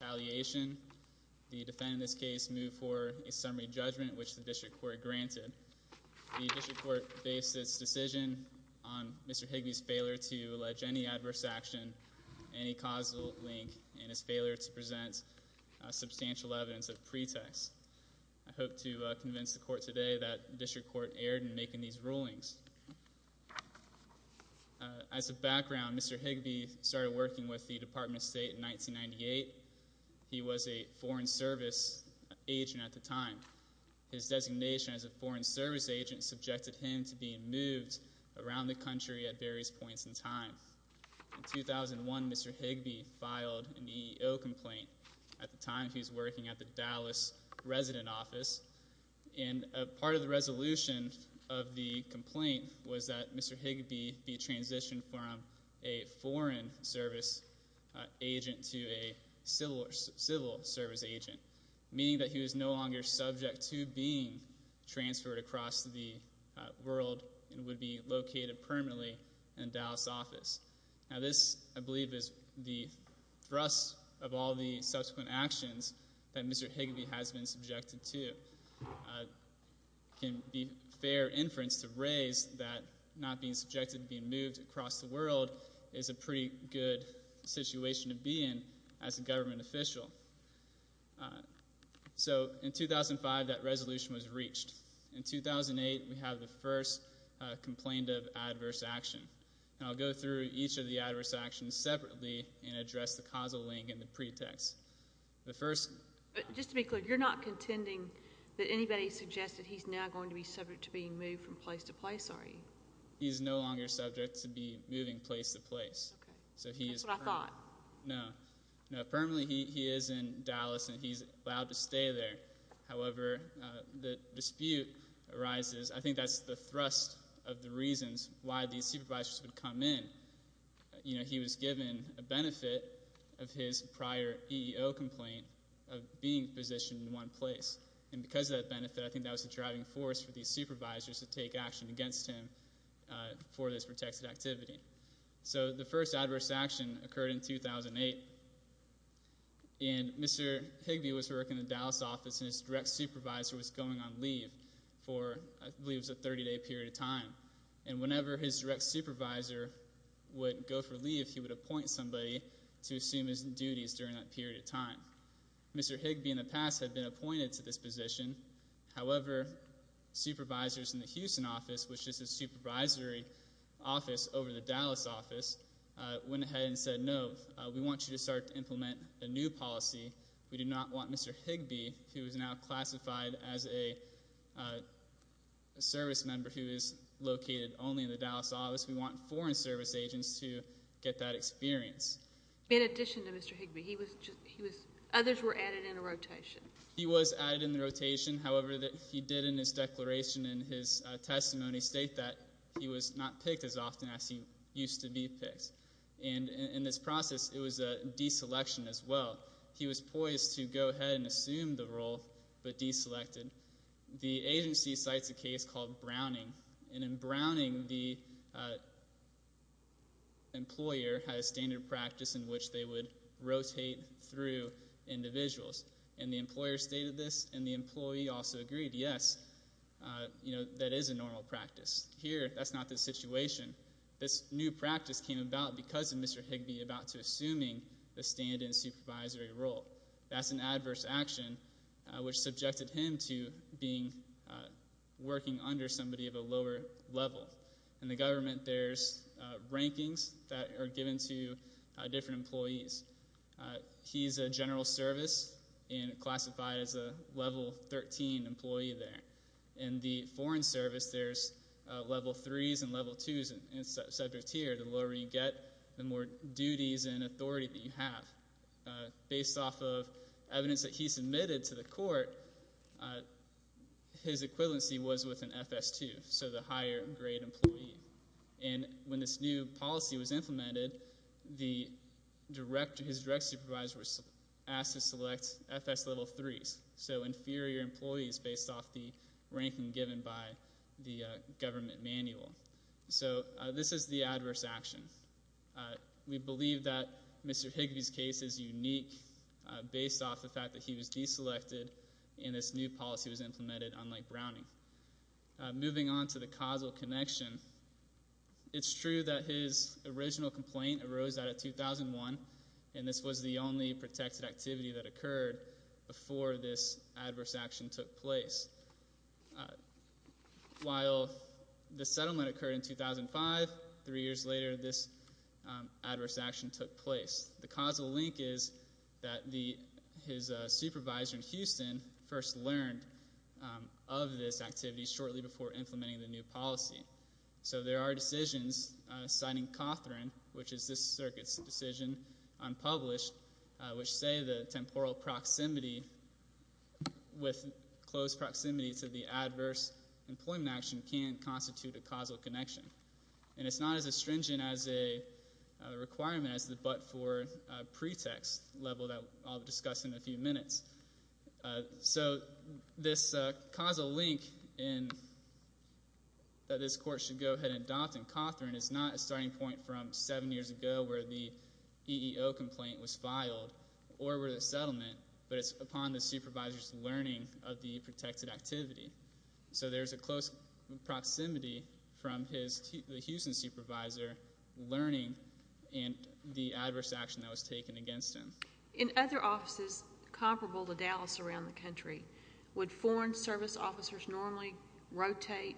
The defendant in this case moved for a summary judgment, which the District Court granted. The District Court based its decision on Mr. Higbie's failure to allege any adverse action, any causal link, and his failure to present substantial evidence of pretext. I hope to convince the Court today that the District Court erred in making these rulings. As a background, Mr. Higbie started working with the Department of State in 1998. He was a Foreign Service agent at the time. His designation as a Foreign Service agent subjected him to being moved around the country at various points in time. In 2001, Mr. Higbie filed an EEO complaint. At the time, he was working at the Dallas Resident Office. And part of the resolution of the complaint was that Mr. Higbie be transitioned from a Foreign Service agent to a Civil Service agent, meaning that he was no longer subject to being transferred across the world and would be located permanently in Dallas office. Now, this, I believe, is the thrust of all the subsequent actions that Mr. Higbie has been subjected to. It can be fair inference to raise that not being subjected to being moved across the world is a pretty good situation to be in as a government official. So, in 2005, that resolution was reached. In 2008, we have the first complaint of adverse action. And I'll go through each of the adverse actions separately and address the causal link and the pretext. The first— But just to be clear, you're not contending that anybody suggested he's now going to be subject to being moved from place to place, are you? He's no longer subject to be moving place to place. Okay. That's what I thought. No. No, permanently he is in Dallas, and he's allowed to stay there. However, the dispute arises. I think that's the thrust of the reasons why these supervisors would come in. You know, he was given a benefit of his prior EEO complaint of being positioned in one place. And because of that benefit, I think that was the driving force for these supervisors to take action against him for this protected activity. So the first adverse action occurred in 2008. And Mr. Higby was working in the Dallas office, and his direct supervisor was going on leave for, I believe, a 30-day period of time. And whenever his direct supervisor would go for leave, he would appoint somebody to assume his duties during that period of time. Mr. Higby, in the past, had been appointed to this position. However, supervisors in the Houston office, which is a supervisory office over the Dallas office, went ahead and said, No, we want you to start to implement a new policy. We do not want Mr. Higby, who is now classified as a service member who is located only in the Dallas office. We want foreign service agents to get that experience. In addition to Mr. Higby, he was just – others were added in a rotation. He was added in the rotation. However, he did in his declaration in his testimony state that he was not picked as often as he used to be picked. And in this process, it was a deselection as well. He was poised to go ahead and assume the role, but deselected. The agency cites a case called Browning. And in Browning, the employer had a standard practice in which they would rotate through individuals. And the employer stated this, and the employee also agreed, yes, that is a normal practice. Here, that's not the situation. This new practice came about because of Mr. Higby about to assuming the stand-in supervisory role. That's an adverse action, which subjected him to being – working under somebody of a lower level. In the government, there's rankings that are given to different employees. He's a general service and classified as a Level 13 employee there. In the Foreign Service, there's Level 3s and Level 2s and subjects here. The lower you get, the more duties and authority that you have. Based off of evidence that he submitted to the court, his equivalency was with an FS2, so the higher-grade employee. And when this new policy was implemented, his direct supervisor was asked to select FS Level 3s, so inferior employees based off the ranking given by the government manual. So this is the adverse action. We believe that Mr. Higby's case is unique based off the fact that he was deselected and this new policy was implemented on Lake Browning. Moving on to the causal connection, it's true that his original complaint arose out of 2001, and this was the only protected activity that occurred before this adverse action took place. While the settlement occurred in 2005, three years later, this adverse action took place. The causal link is that his supervisor in Houston first learned of this activity shortly before implementing the new policy. So there are decisions, citing Cawthorne, which is this circuit's decision, unpublished, which say the temporal proximity with close proximity to the adverse employment action can constitute a causal connection. And it's not as astringent as a requirement as the but-for pretext level that I'll discuss in a few minutes. So this causal link that this court should go ahead and adopt in Cawthorne is not a starting point from seven years ago where the EEO complaint was filed or where the settlement, but it's upon the supervisor's learning of the protected activity. So there's a close proximity from the Houston supervisor learning the adverse action that was taken against him. In other offices comparable to Dallas around the country, would foreign service officers normally rotate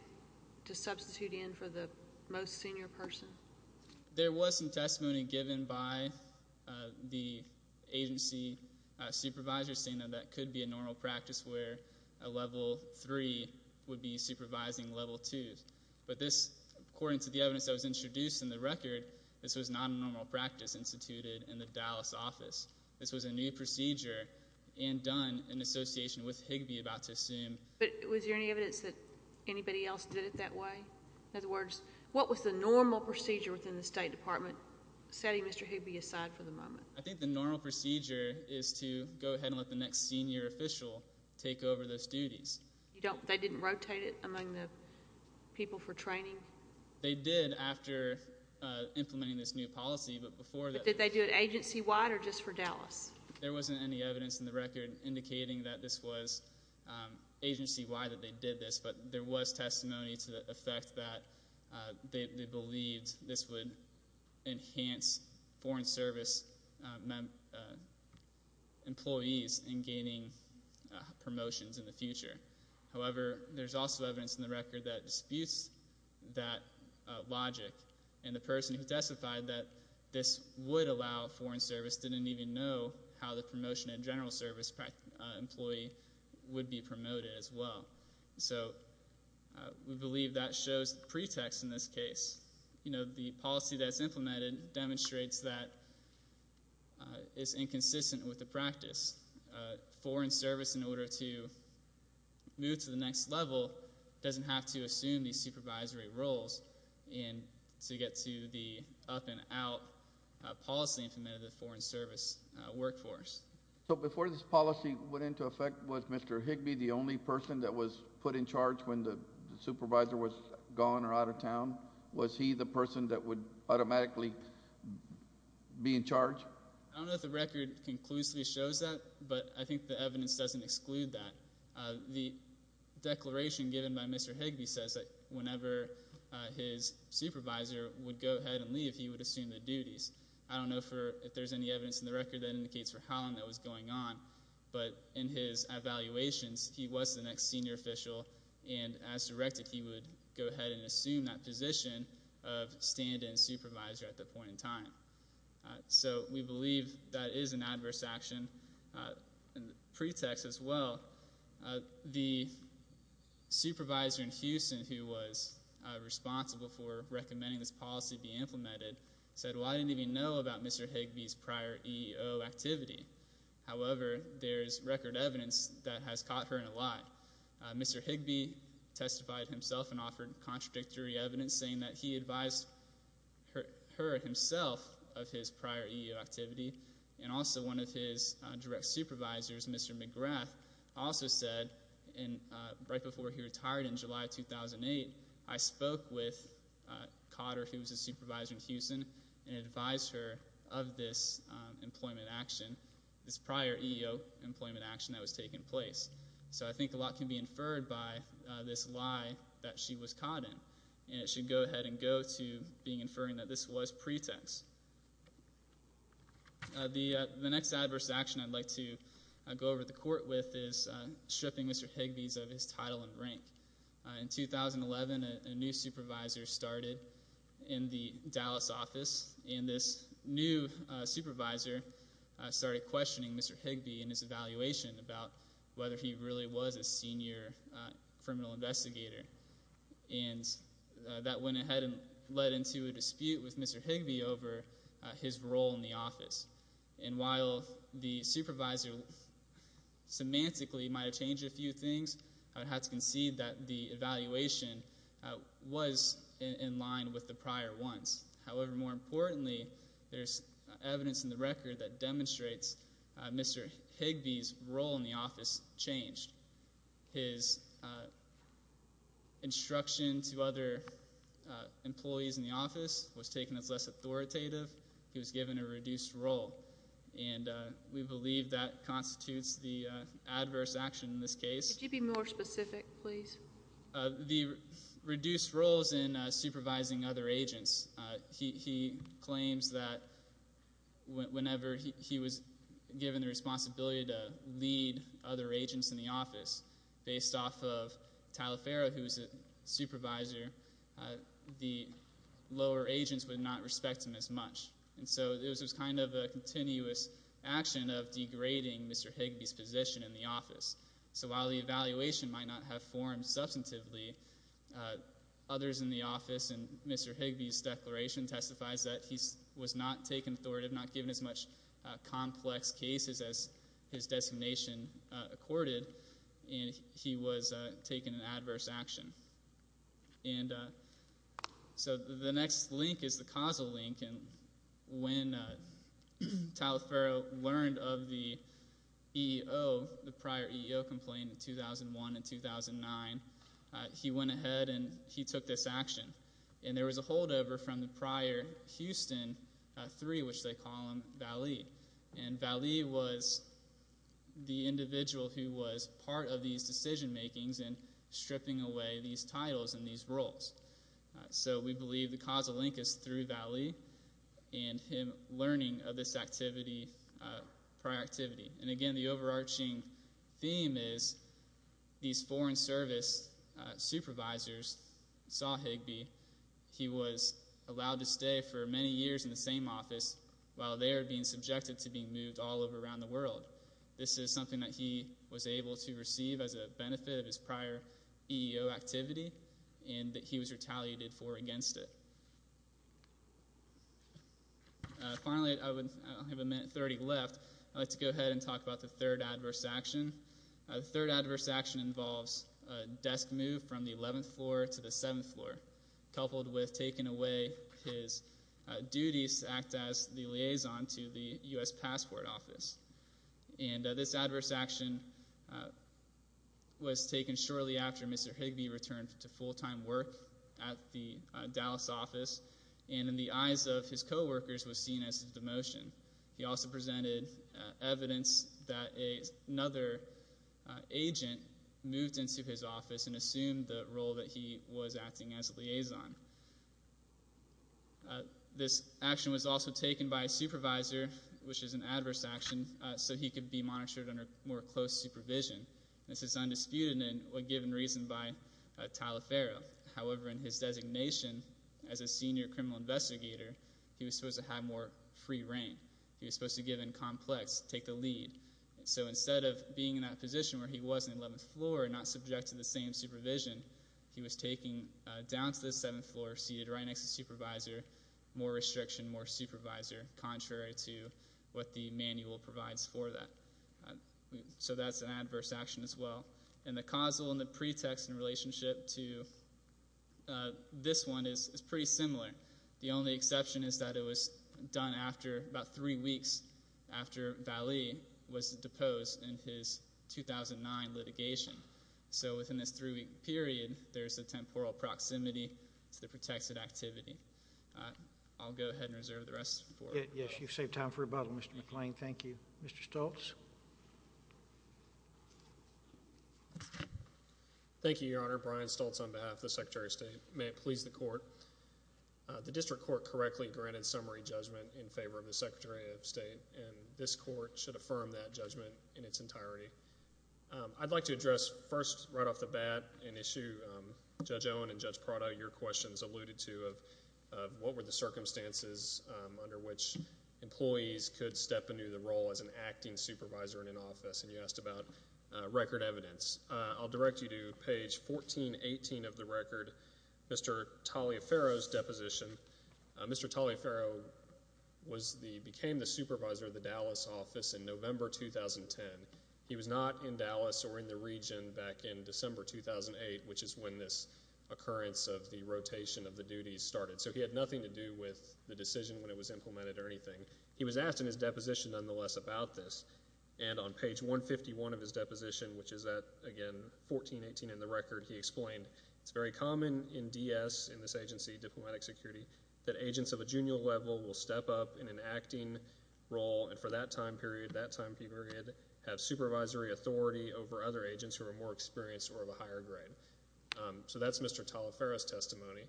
to substitute in for the most senior person? There was some testimony given by the agency supervisor saying that that could be a normal practice where a level three would be supervising level twos. But this, according to the evidence that was introduced in the record, this was not a normal practice instituted in the Dallas office. This was a new procedure and done in association with Higbee about to assume. But was there any evidence that anybody else did it that way? In other words, what was the normal procedure within the State Department, setting Mr. Higbee aside for the moment? I think the normal procedure is to go ahead and let the next senior official take over those duties. They didn't rotate it among the people for training? They did after implementing this new policy, but before that. Did they do it agency-wide or just for Dallas? There wasn't any evidence in the record indicating that this was agency-wide that they did this, but there was testimony to the effect that they believed this would enhance foreign service employees in gaining promotions in the future. However, there's also evidence in the record that disputes that logic, and the person who testified that this would allow foreign service didn't even know how the promotion and general service employee would be promoted as well. So we believe that shows the pretext in this case. The policy that's implemented demonstrates that it's inconsistent with the practice. Foreign service, in order to move to the next level, doesn't have to assume these supervisory roles to get to the up-and-out policy implemented in the foreign service workforce. So before this policy went into effect, was Mr. Higbee the only person that was put in charge when the supervisor was gone or out of town? Was he the person that would automatically be in charge? I don't know if the record conclusively shows that, but I think the evidence doesn't exclude that. The declaration given by Mr. Higbee says that whenever his supervisor would go ahead and leave, he would assume the duties. I don't know if there's any evidence in the record that indicates for how long that was going on, but in his evaluations he was the next senior official, and as directed he would go ahead and assume that position of stand-in supervisor at that point in time. So we believe that is an adverse action pretext as well. The supervisor in Houston who was responsible for recommending this policy be implemented said, well, I didn't even know about Mr. Higbee's prior EEO activity. However, there's record evidence that has caught her in a lie. Mr. Higbee testified himself and offered contradictory evidence saying that he advised her himself of his prior EEO activity, and also one of his direct supervisors, Mr. McGrath, also said right before he retired in July 2008, I spoke with Cotter, who was a supervisor in Houston, and advised her of this employment action, this prior EEO employment action that was taking place. So I think a lot can be inferred by this lie that she was caught in, and it should go ahead and go to being inferring that this was pretext. The next adverse action I'd like to go over to the court with is stripping Mr. Higbee of his title and rank. In 2011, a new supervisor started in the Dallas office, and this new supervisor started questioning Mr. Higbee in his evaluation about whether he really was a senior criminal investigator. And that went ahead and led into a dispute with Mr. Higbee over his role in the office. And while the supervisor semantically might have changed a few things, I would have to concede that the evaluation was in line with the prior ones. However, more importantly, there's evidence in the record that demonstrates Mr. Higbee's role in the office changed. His instruction to other employees in the office was taken as less authoritative. He was given a reduced role, and we believe that constitutes the adverse action in this case. Could you be more specific, please? The reduced roles in supervising other agents. He claims that whenever he was given the responsibility to lead other agents in the office, based off of Tyler Farah, who was a supervisor, the lower agents would not respect him as much. And so it was kind of a continuous action of degrading Mr. Higbee's position in the office. So while the evaluation might not have formed substantively, others in the office, and Mr. Higbee's declaration testifies that he was not taken authoritative, not given as much complex cases as his designation accorded, and he was taken an adverse action. And so the next link is the causal link. And when Tyler Farah learned of the EEO, the prior EEO complaint in 2001 and 2009, he went ahead and he took this action. And there was a holdover from the prior Houston III, which they call him Vallee. And Vallee was the individual who was part of these decision-makings and stripping away these titles and these roles. So we believe the causal link is through Vallee and him learning of this activity, prior activity. And, again, the overarching theme is these Foreign Service supervisors saw Higbee. He was allowed to stay for many years in the same office while they were being subjected to being moved all over around the world. This is something that he was able to receive as a benefit of his prior EEO activity and that he was retaliated for against it. Finally, I have a minute 30 left. I'd like to go ahead and talk about the third adverse action. The third adverse action involves a desk move from the 11th floor to the 7th floor, coupled with taking away his duties to act as the liaison to the U.S. Passport Office. And this adverse action was taken shortly after Mr. Higbee returned to full-time work at the Dallas office, and in the eyes of his coworkers was seen as a demotion. He also presented evidence that another agent moved into his office and assumed the role that he was acting as a liaison. This action was also taken by a supervisor, which is an adverse action, so he could be monitored under more close supervision. This is undisputed and given reason by Taliaferro. However, in his designation as a senior criminal investigator, he was supposed to have more free reign. He was supposed to give in complex, take the lead. So instead of being in that position where he was on the 11th floor and not subject to the same supervision, he was taken down to the 7th floor, seated right next to the supervisor, more restriction, more supervisor, contrary to what the manual provides for that. So that's an adverse action as well. And the causal and the pretext in relationship to this one is pretty similar. The only exception is that it was done after about three weeks after Vallee was deposed in his 2009 litigation. So within this three-week period, there's a temporal proximity to the protected activity. I'll go ahead and reserve the rest for rebuttal. Yes, you've saved time for rebuttal, Mr. McClain. Thank you. Mr. Stoltz. Thank you, Your Honor. Brian Stoltz on behalf of the Secretary of State. May it please the Court. The district court correctly granted summary judgment in favor of the Secretary of State, and this court should affirm that judgment in its entirety. I'd like to address first right off the bat an issue Judge Owen and Judge Prado, your questions alluded to, of what were the circumstances under which employees could step into the role as an acting supervisor in an office, and you asked about record evidence. I'll direct you to page 1418 of the record, Mr. Taliaferro's deposition. Mr. Taliaferro became the supervisor of the Dallas office in November 2010. He was not in Dallas or in the region back in December 2008, which is when this occurrence of the rotation of the duties started, so he had nothing to do with the decision when it was implemented or anything. He was asked in his deposition, nonetheless, about this, and on page 151 of his deposition, which is at, again, 1418 in the record, he explained, it's very common in DS, in this agency, diplomatic security, that agents of a junior level will step up in an acting role, and for that time period, that time period, have supervisory authority over other agents who are more experienced or of a higher grade. So that's Mr. Taliaferro's testimony.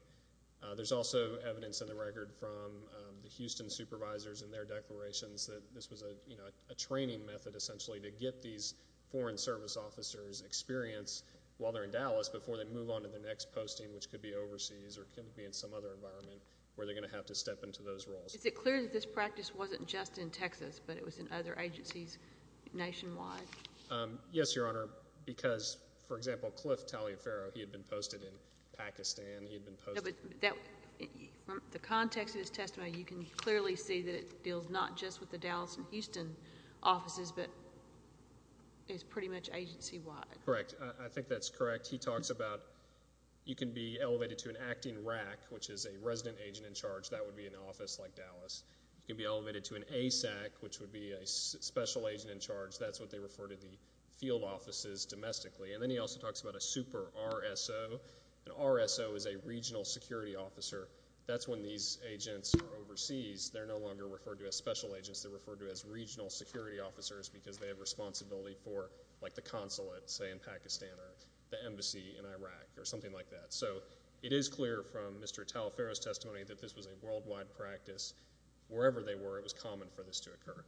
There's also evidence in the record from the Houston supervisors and their declarations that this was a training method, essentially, to get these foreign service officers experience while they're in Dallas before they move on to their next posting, which could be overseas or could be in some other environment where they're going to have to step into those roles. Is it clear that this practice wasn't just in Texas, but it was in other agencies nationwide? Yes, Your Honor, because, for example, Cliff Taliaferro, he had been posted in Pakistan. No, but from the context of his testimony, you can clearly see that it deals not just with the Dallas and Houston offices, but it's pretty much agency-wide. Correct. I think that's correct. He talks about you can be elevated to an acting RAC, which is a resident agent in charge. That would be an office like Dallas. You can be elevated to an ASAC, which would be a special agent in charge. That's what they refer to the field offices domestically. And then he also talks about a super RSO. An RSO is a regional security officer. That's when these agents are overseas. They're no longer referred to as special agents. They're referred to as regional security officers because they have responsibility for, like, the consulate, say, in Pakistan or the embassy in Iraq or something like that. So it is clear from Mr. Taliaferro's testimony that this was a worldwide practice. Wherever they were, it was common for this to occur.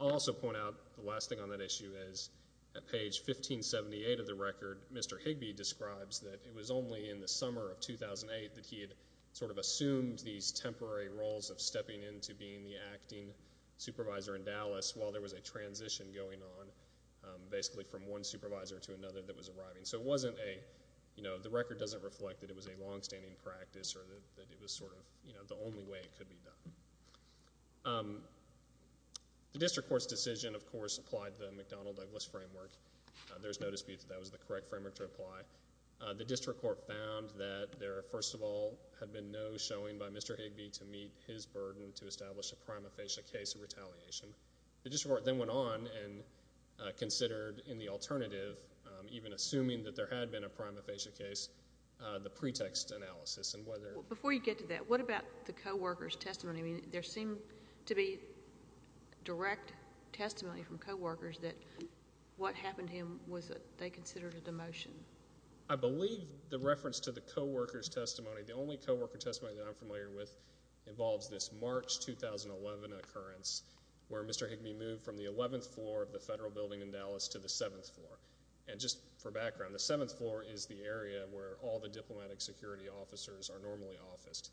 I'll also point out the last thing on that issue is at page 1578 of the record, Mr. Higby describes that it was only in the summer of 2008 that he had sort of assumed these temporary roles of stepping into being the acting supervisor in Dallas while there was a transition going on, basically, from one supervisor to another that was arriving. So it wasn't a, you know, the record doesn't reflect that it was a longstanding practice or that it was sort of, you know, the only way it could be done. The district court's decision, of course, applied to the McDonnell-Douglas framework. There's no dispute that that was the correct framework to apply. The district court found that there, first of all, had been no showing by Mr. Higby to meet his burden to establish a prima facie case of retaliation. The district court then went on and considered in the alternative, even assuming that there had been a prima facie case, the pretext analysis. Before you get to that, what about the co-worker's testimony? I mean, there seemed to be direct testimony from co-workers that what happened to him was that they considered a demotion. I believe the reference to the co-worker's testimony, the only co-worker testimony that I'm familiar with, involves this March 2011 occurrence where Mr. Higby moved from the 11th floor of the Federal Building in Dallas to the 7th floor. And just for background, the 7th floor is the area where all the diplomatic security officers are normally officed.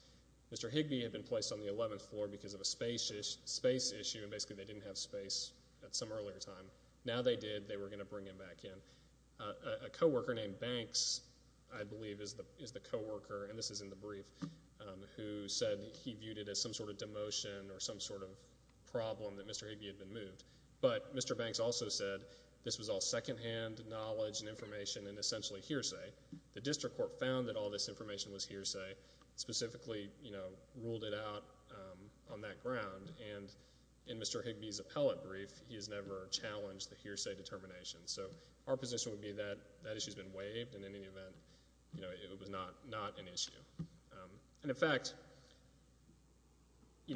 Mr. Higby had been placed on the 11th floor because of a space issue, and basically they didn't have space at some earlier time. Now they did. They were going to bring him back in. A co-worker named Banks, I believe, is the co-worker, and this is in the brief, who said he viewed it as some sort of demotion or some sort of problem that Mr. Higby had been moved. But Mr. Banks also said this was all secondhand knowledge and information and essentially hearsay. The district court found that all this information was hearsay, specifically ruled it out on that ground. And in Mr. Higby's appellate brief, he has never challenged the hearsay determination. So our position would be that that issue has been waived, and in any event, it was not an issue. And in fact,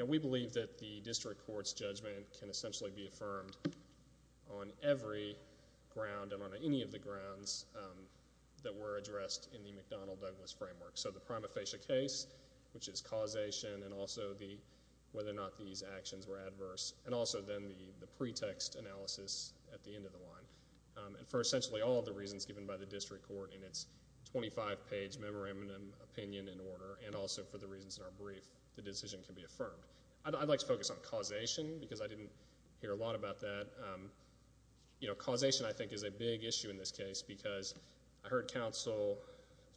we believe that the district court's judgment can essentially be affirmed on every ground and on any of the grounds that were addressed in the McDonnell-Douglas framework. So the prima facie case, which is causation, and also whether or not these actions were adverse, and also then the pretext analysis at the end of the line. And for essentially all of the reasons given by the district court in its 25-page memorandum opinion in order, and also for the reasons in our brief, the decision can be affirmed. I'd like to focus on causation because I didn't hear a lot about that. You know, causation, I think, is a big issue in this case because I heard counsel,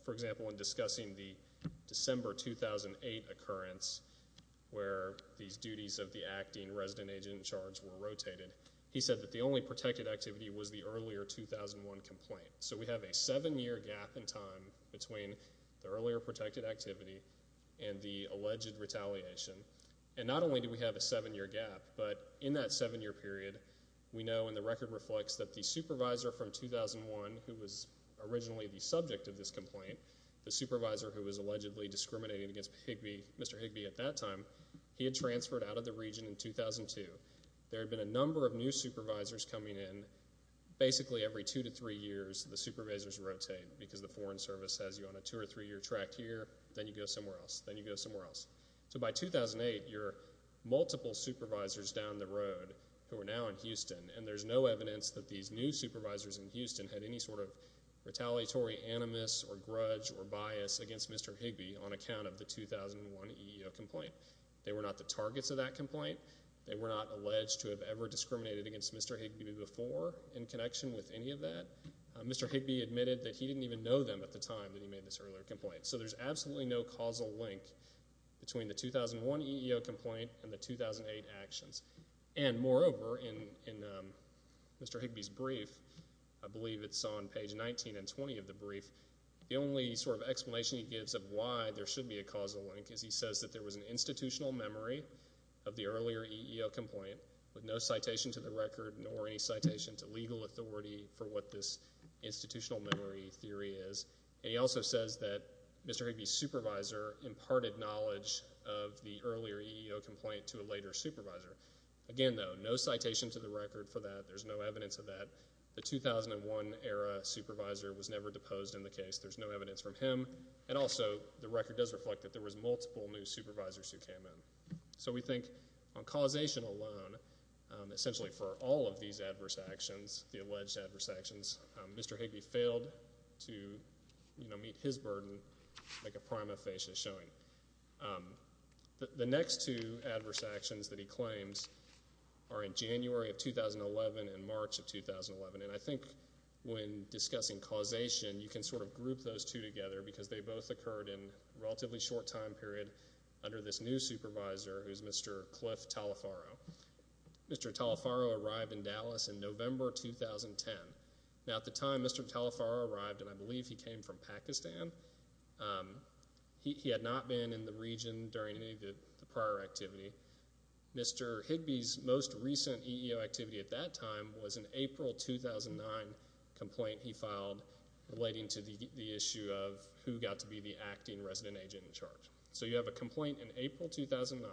for example, in discussing the December 2008 occurrence where these duties of the acting resident agent in charge were rotated. He said that the only protected activity was the earlier 2001 complaint. So we have a seven-year gap in time between the earlier protected activity and the alleged retaliation. And not only do we have a seven-year gap, but in that seven-year period, we know and the record reflects that the supervisor from 2001, who was originally the subject of this complaint, the supervisor who was allegedly discriminating against Mr. Higbee at that time, he had transferred out of the region in 2002. There had been a number of new supervisors coming in. Basically, every two to three years, the supervisors rotate because the Foreign Service has you on a two- or three-year track here. Then you go somewhere else. Then you go somewhere else. So by 2008, you're multiple supervisors down the road who are now in Houston, and there's no evidence that these new supervisors in Houston had any sort of retaliatory animus or grudge or bias against Mr. Higbee on account of the 2001 EEO complaint. They were not the targets of that complaint. They were not alleged to have ever discriminated against Mr. Higbee before in connection with any of that. Mr. Higbee admitted that he didn't even know them at the time that he made this earlier complaint. So there's absolutely no causal link between the 2001 EEO complaint and the 2008 actions. Moreover, in Mr. Higbee's brief, I believe it's on page 19 and 20 of the brief, the only sort of explanation he gives of why there should be a causal link is he says that there was an institutional memory of the earlier EEO complaint with no citation to the record nor any citation to legal authority for what this institutional memory theory is. And he also says that Mr. Higbee's supervisor imparted knowledge of the earlier EEO complaint to a later supervisor. Again, though, no citation to the record for that. There's no evidence of that. The 2001-era supervisor was never deposed in the case. There's no evidence from him. And also the record does reflect that there was multiple new supervisors who came in. So we think on causation alone, essentially for all of these adverse actions, the alleged adverse actions, Mr. Higbee failed to meet his burden like a prima facie showing. The next two adverse actions that he claims are in January of 2011 and March of 2011. And I think when discussing causation, you can sort of group those two together because they both occurred in a relatively short time period under this new supervisor who is Mr. Cliff Talifaro. Mr. Talifaro arrived in Dallas in November 2010. Now at the time Mr. Talifaro arrived, and I believe he came from Pakistan, he had not been in the region during any of the prior activity. Mr. Higbee's most recent EEO activity at that time was an April 2009 complaint he filed relating to the issue of who got to be the acting resident agent in charge. So you have a complaint in April 2009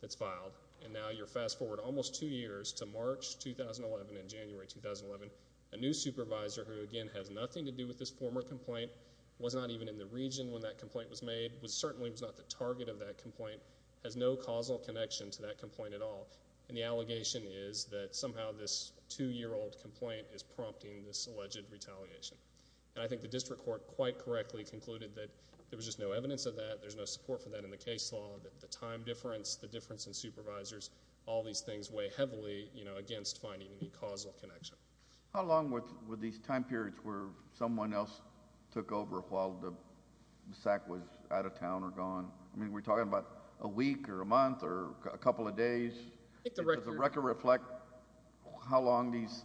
that's filed, and now you're fast forward almost two years to March 2011 and January 2011. A new supervisor who, again, has nothing to do with this former complaint, was not even in the region when that complaint was made, certainly was not the target of that complaint, has no causal connection to that complaint at all. And the allegation is that somehow this two-year-old complaint is prompting this alleged retaliation. And I think the district court quite correctly concluded that there was just no evidence of that, there's no support for that in the case law, that the time difference, the difference in supervisors, all these things weigh heavily against finding any causal connection. How long were these time periods where someone else took over while the SAC was out of town or gone? I mean, we're talking about a week or a month or a couple of days. Does the record reflect how long these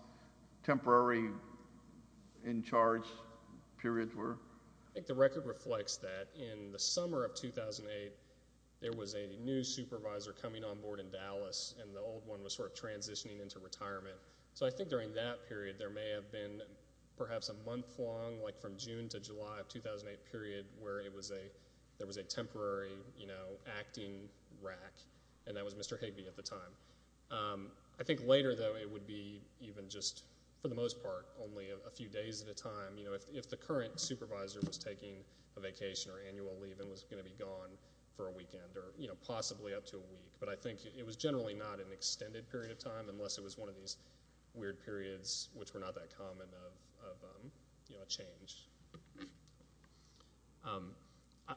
temporary in-charge periods were? I think the record reflects that. In the summer of 2008, there was a new supervisor coming on board in Dallas, and the old one was sort of transitioning into retirement. So I think during that period there may have been perhaps a month-long, like from June to July of 2008 period, where there was a temporary acting rack, and that was Mr. Higby at the time. I think later, though, it would be even just for the most part only a few days at a time. If the current supervisor was taking a vacation or annual leave and was going to be gone for a weekend or possibly up to a week, but I think it was generally not an extended period of time unless it was one of these weird periods which were not that common of a change.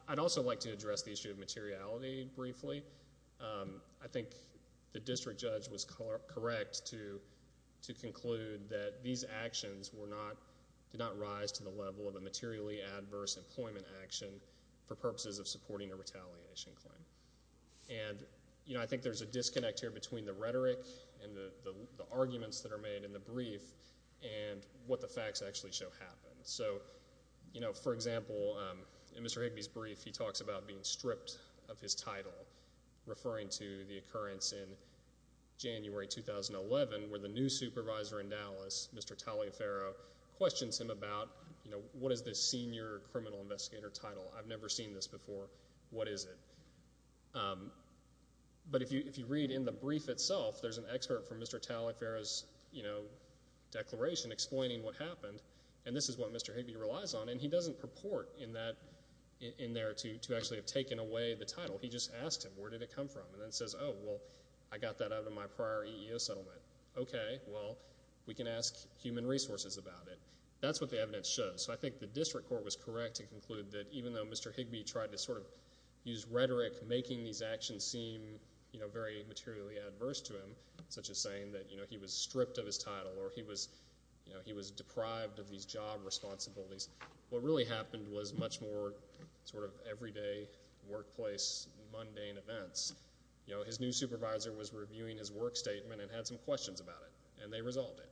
I'd also like to address the issue of materiality briefly. I think the district judge was correct to conclude that these actions were not, did not rise to the level of a materially adverse employment action for purposes of supporting a retaliation claim. And, you know, I think there's a disconnect here between the rhetoric and the arguments that are made in the brief and what the facts actually show happened. So, you know, for example, in Mr. Higby's brief, he talks about being stripped of his title, referring to the occurrence in January 2011 where the new supervisor in Dallas, Mr. Taliaferro, questions him about, you know, what is this senior criminal investigator title? I've never seen this before. What is it? But if you read in the brief itself, there's an excerpt from Mr. Taliaferro's, you know, that Mr. Higby relies on, and he doesn't purport in that, in there to actually have taken away the title. He just asked him, where did it come from? And then says, oh, well, I got that out of my prior EEO settlement. Okay, well, we can ask human resources about it. That's what the evidence shows. So I think the district court was correct to conclude that even though Mr. Higby tried to sort of use rhetoric, making these actions seem, you know, very materially adverse to him, such as saying that, you know, he was stripped of his title or he was deprived of these job responsibilities, what really happened was much more sort of everyday workplace mundane events. You know, his new supervisor was reviewing his work statement and had some questions about it, and they resolved it.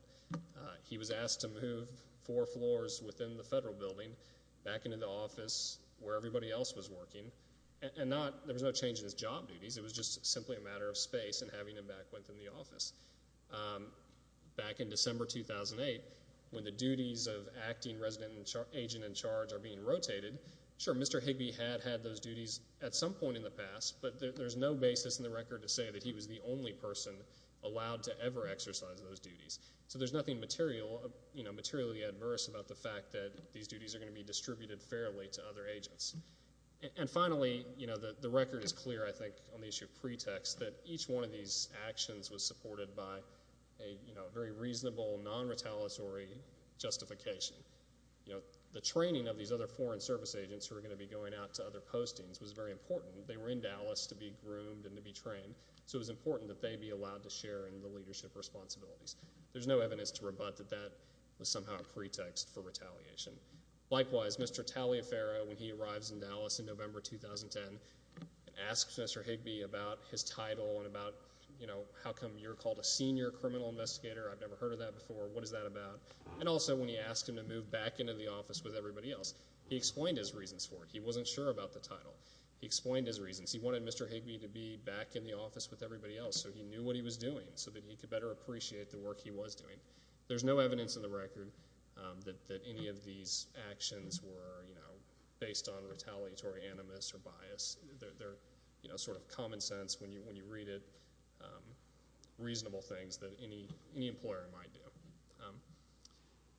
He was asked to move four floors within the federal building back into the office where everybody else was working, and there was no change in his job duties. It was just simply a matter of space and having him back within the office. Back in December 2008, when the duties of acting resident agent in charge are being rotated, sure, Mr. Higby had had those duties at some point in the past, but there's no basis in the record to say that he was the only person allowed to ever exercise those duties. So there's nothing materially adverse about the fact that these duties are going to be distributed fairly to other agents. And finally, you know, the record is clear, I think, on the issue of pretext, that each one of these actions was supported by a very reasonable, non-retaliatory justification. You know, the training of these other foreign service agents who were going to be going out to other postings was very important. They were in Dallas to be groomed and to be trained, so it was important that they be allowed to share in the leadership responsibilities. There's no evidence to rebut that that was somehow a pretext for retaliation. Likewise, Mr. Taliaferro, when he arrives in Dallas in November 2010 and asks Mr. Higby about his title and about, you know, how come you're called a senior criminal investigator? I've never heard of that before. What is that about? And also, when he asked him to move back into the office with everybody else, he explained his reasons for it. He wasn't sure about the title. He explained his reasons. He wanted Mr. Higby to be back in the office with everybody else so he knew what he was doing so that he could better appreciate the work he was doing. There's no evidence in the record that any of these actions were, you know, based on retaliatory animus or bias. They're, you know, sort of common sense when you read it, reasonable things that any employer might do.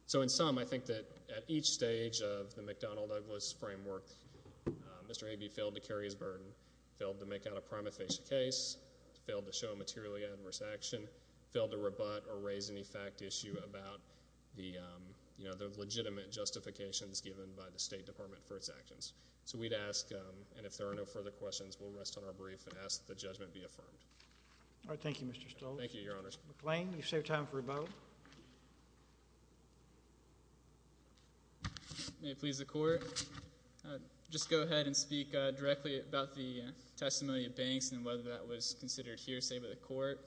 So in sum, I think that at each stage of the McDonnell-Douglas framework, Mr. Higby failed to carry his burden, failed to make out a prima facie case, failed to show materially adverse action, failed to rebut or raise any fact issue about the, you know, the legitimate justifications given by the State Department for its actions. So we'd ask, and if there are no further questions, we'll rest on our brief and ask that the judgment be affirmed. All right. Thank you, Mr. Stoltz. Thank you, Your Honors. McClain, you've saved time for a vote. May it please the Court. Just go ahead and speak directly about the testimony of Banks and whether that was considered hearsay by the Court.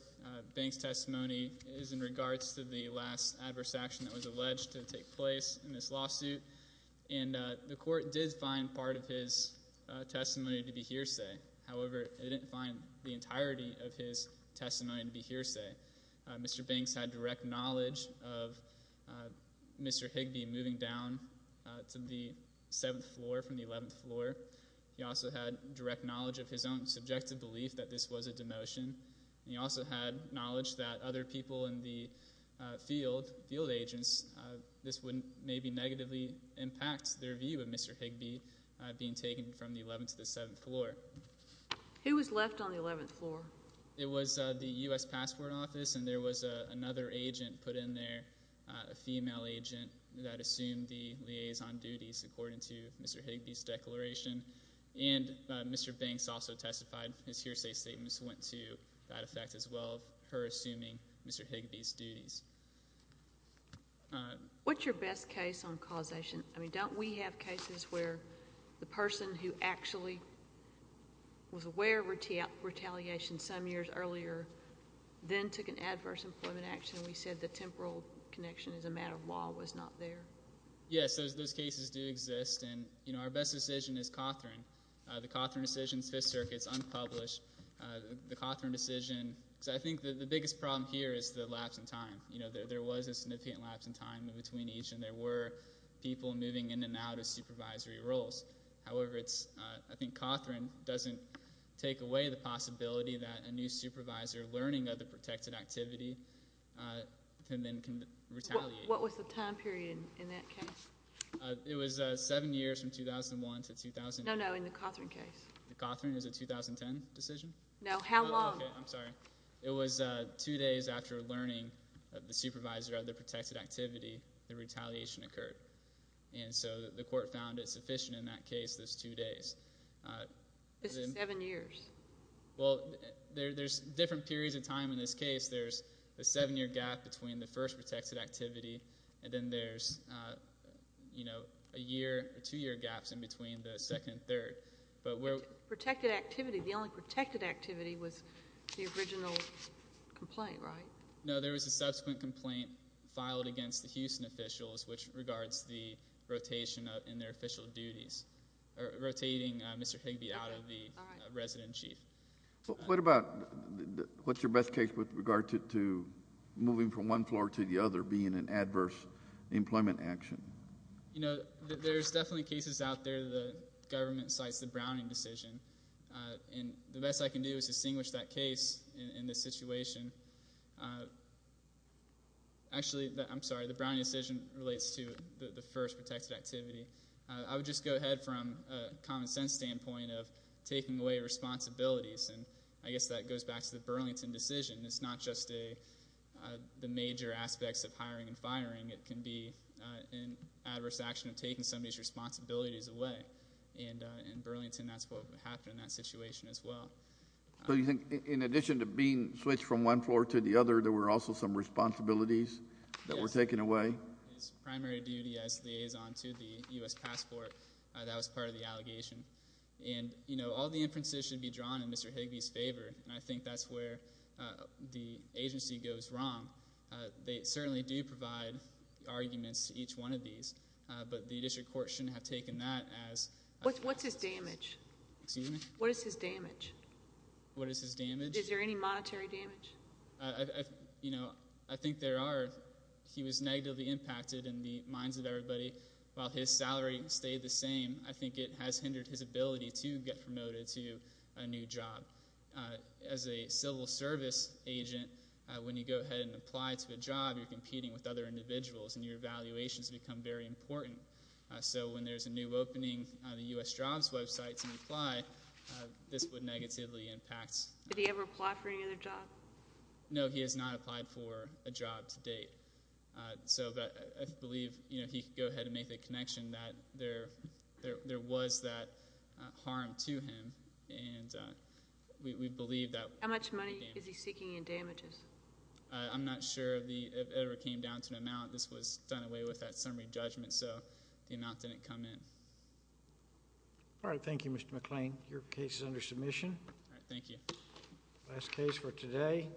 Banks' testimony is in regards to the last adverse action that was alleged to take place in this lawsuit. And the Court did find part of his testimony to be hearsay. However, it didn't find the entirety of his testimony to be hearsay. Mr. Banks had direct knowledge of Mr. Higby moving down to the seventh floor from the eleventh floor. He also had direct knowledge of his own subjective belief that this was a demotion. And he also had knowledge that other people in the field, field agents, this would maybe negatively impact their view of Mr. Higby being taken from the eleventh to the seventh floor. Who was left on the eleventh floor? It was the U.S. Passport Office, and there was another agent put in there, a female agent that assumed the liaison duties according to Mr. Higby's declaration. And Mr. Banks also testified. His hearsay statements went to that effect as well of her assuming Mr. Higby's duties. What's your best case on causation? I mean, don't we have cases where the person who actually was aware of retaliation some years earlier then took an adverse employment action and we said the temporal connection is a matter of law was not there? Yes, those cases do exist. And, you know, our best decision is Cawthorne. The Cawthorne decision's Fifth Circuit's unpublished. The Cawthorne decision, because I think the biggest problem here is the lapse in time. You know, there was a significant lapse in time between each, and there were people moving in and out of supervisory roles. However, I think Cawthorne doesn't take away the possibility that a new supervisor, learning of the protected activity, can then retaliate. What was the time period in that case? It was seven years from 2001 to 2000. No, no, in the Cawthorne case. The Cawthorne? Is it a 2010 decision? No, how long? Okay, I'm sorry. It was two days after learning of the supervisor of the protected activity, the retaliation occurred. And so the court found it sufficient in that case, those two days. This is seven years. Well, there's different periods of time in this case. There's a seven-year gap between the first protected activity, and then there's, you know, a year or two-year gaps in between the second and third. Protected activity, the only protected activity was the original complaint, right? No, there was a subsequent complaint filed against the Houston officials, which regards the rotation in their official duties, rotating Mr. Higby out of the resident chief. What about what's your best case with regard to moving from one floor to the other being an adverse employment action? You know, there's definitely cases out there the government cites the Browning decision, and the best I can do is distinguish that case in this situation. Actually, I'm sorry, the Browning decision relates to the first protected activity. I would just go ahead from a common sense standpoint of taking away responsibilities, and I guess that goes back to the Burlington decision. It's not just the major aspects of hiring and firing. It can be an adverse action of taking somebody's responsibilities away, and in Burlington that's what happened in that situation as well. So you think in addition to being switched from one floor to the other, there were also some responsibilities that were taken away? His primary duty as liaison to the U.S. passport, that was part of the allegation. And, you know, all the inferences should be drawn in Mr. Higby's favor, and I think that's where the agency goes wrong. They certainly do provide arguments to each one of these, but the district court shouldn't have taken that as- What's his damage? Excuse me? What is his damage? What is his damage? Is there any monetary damage? You know, I think there are. He was negatively impacted in the minds of everybody. While his salary stayed the same, I think it has hindered his ability to get promoted to a new job. As a civil service agent, when you go ahead and apply to a job, you're competing with other individuals, and your valuations become very important. So when there's a new opening on the U.S. jobs website to apply, this would negatively impact- Did he ever apply for any other job? No, he has not applied for a job to date. So I believe he could go ahead and make the connection that there was that harm to him, and we believe that- How much money is he seeking in damages? I'm not sure if it ever came down to an amount. This was done away with at summary judgment, so the amount didn't come in. All right, thank you, Mr. McClain. Your case is under submission. All right, thank you. Last case for today.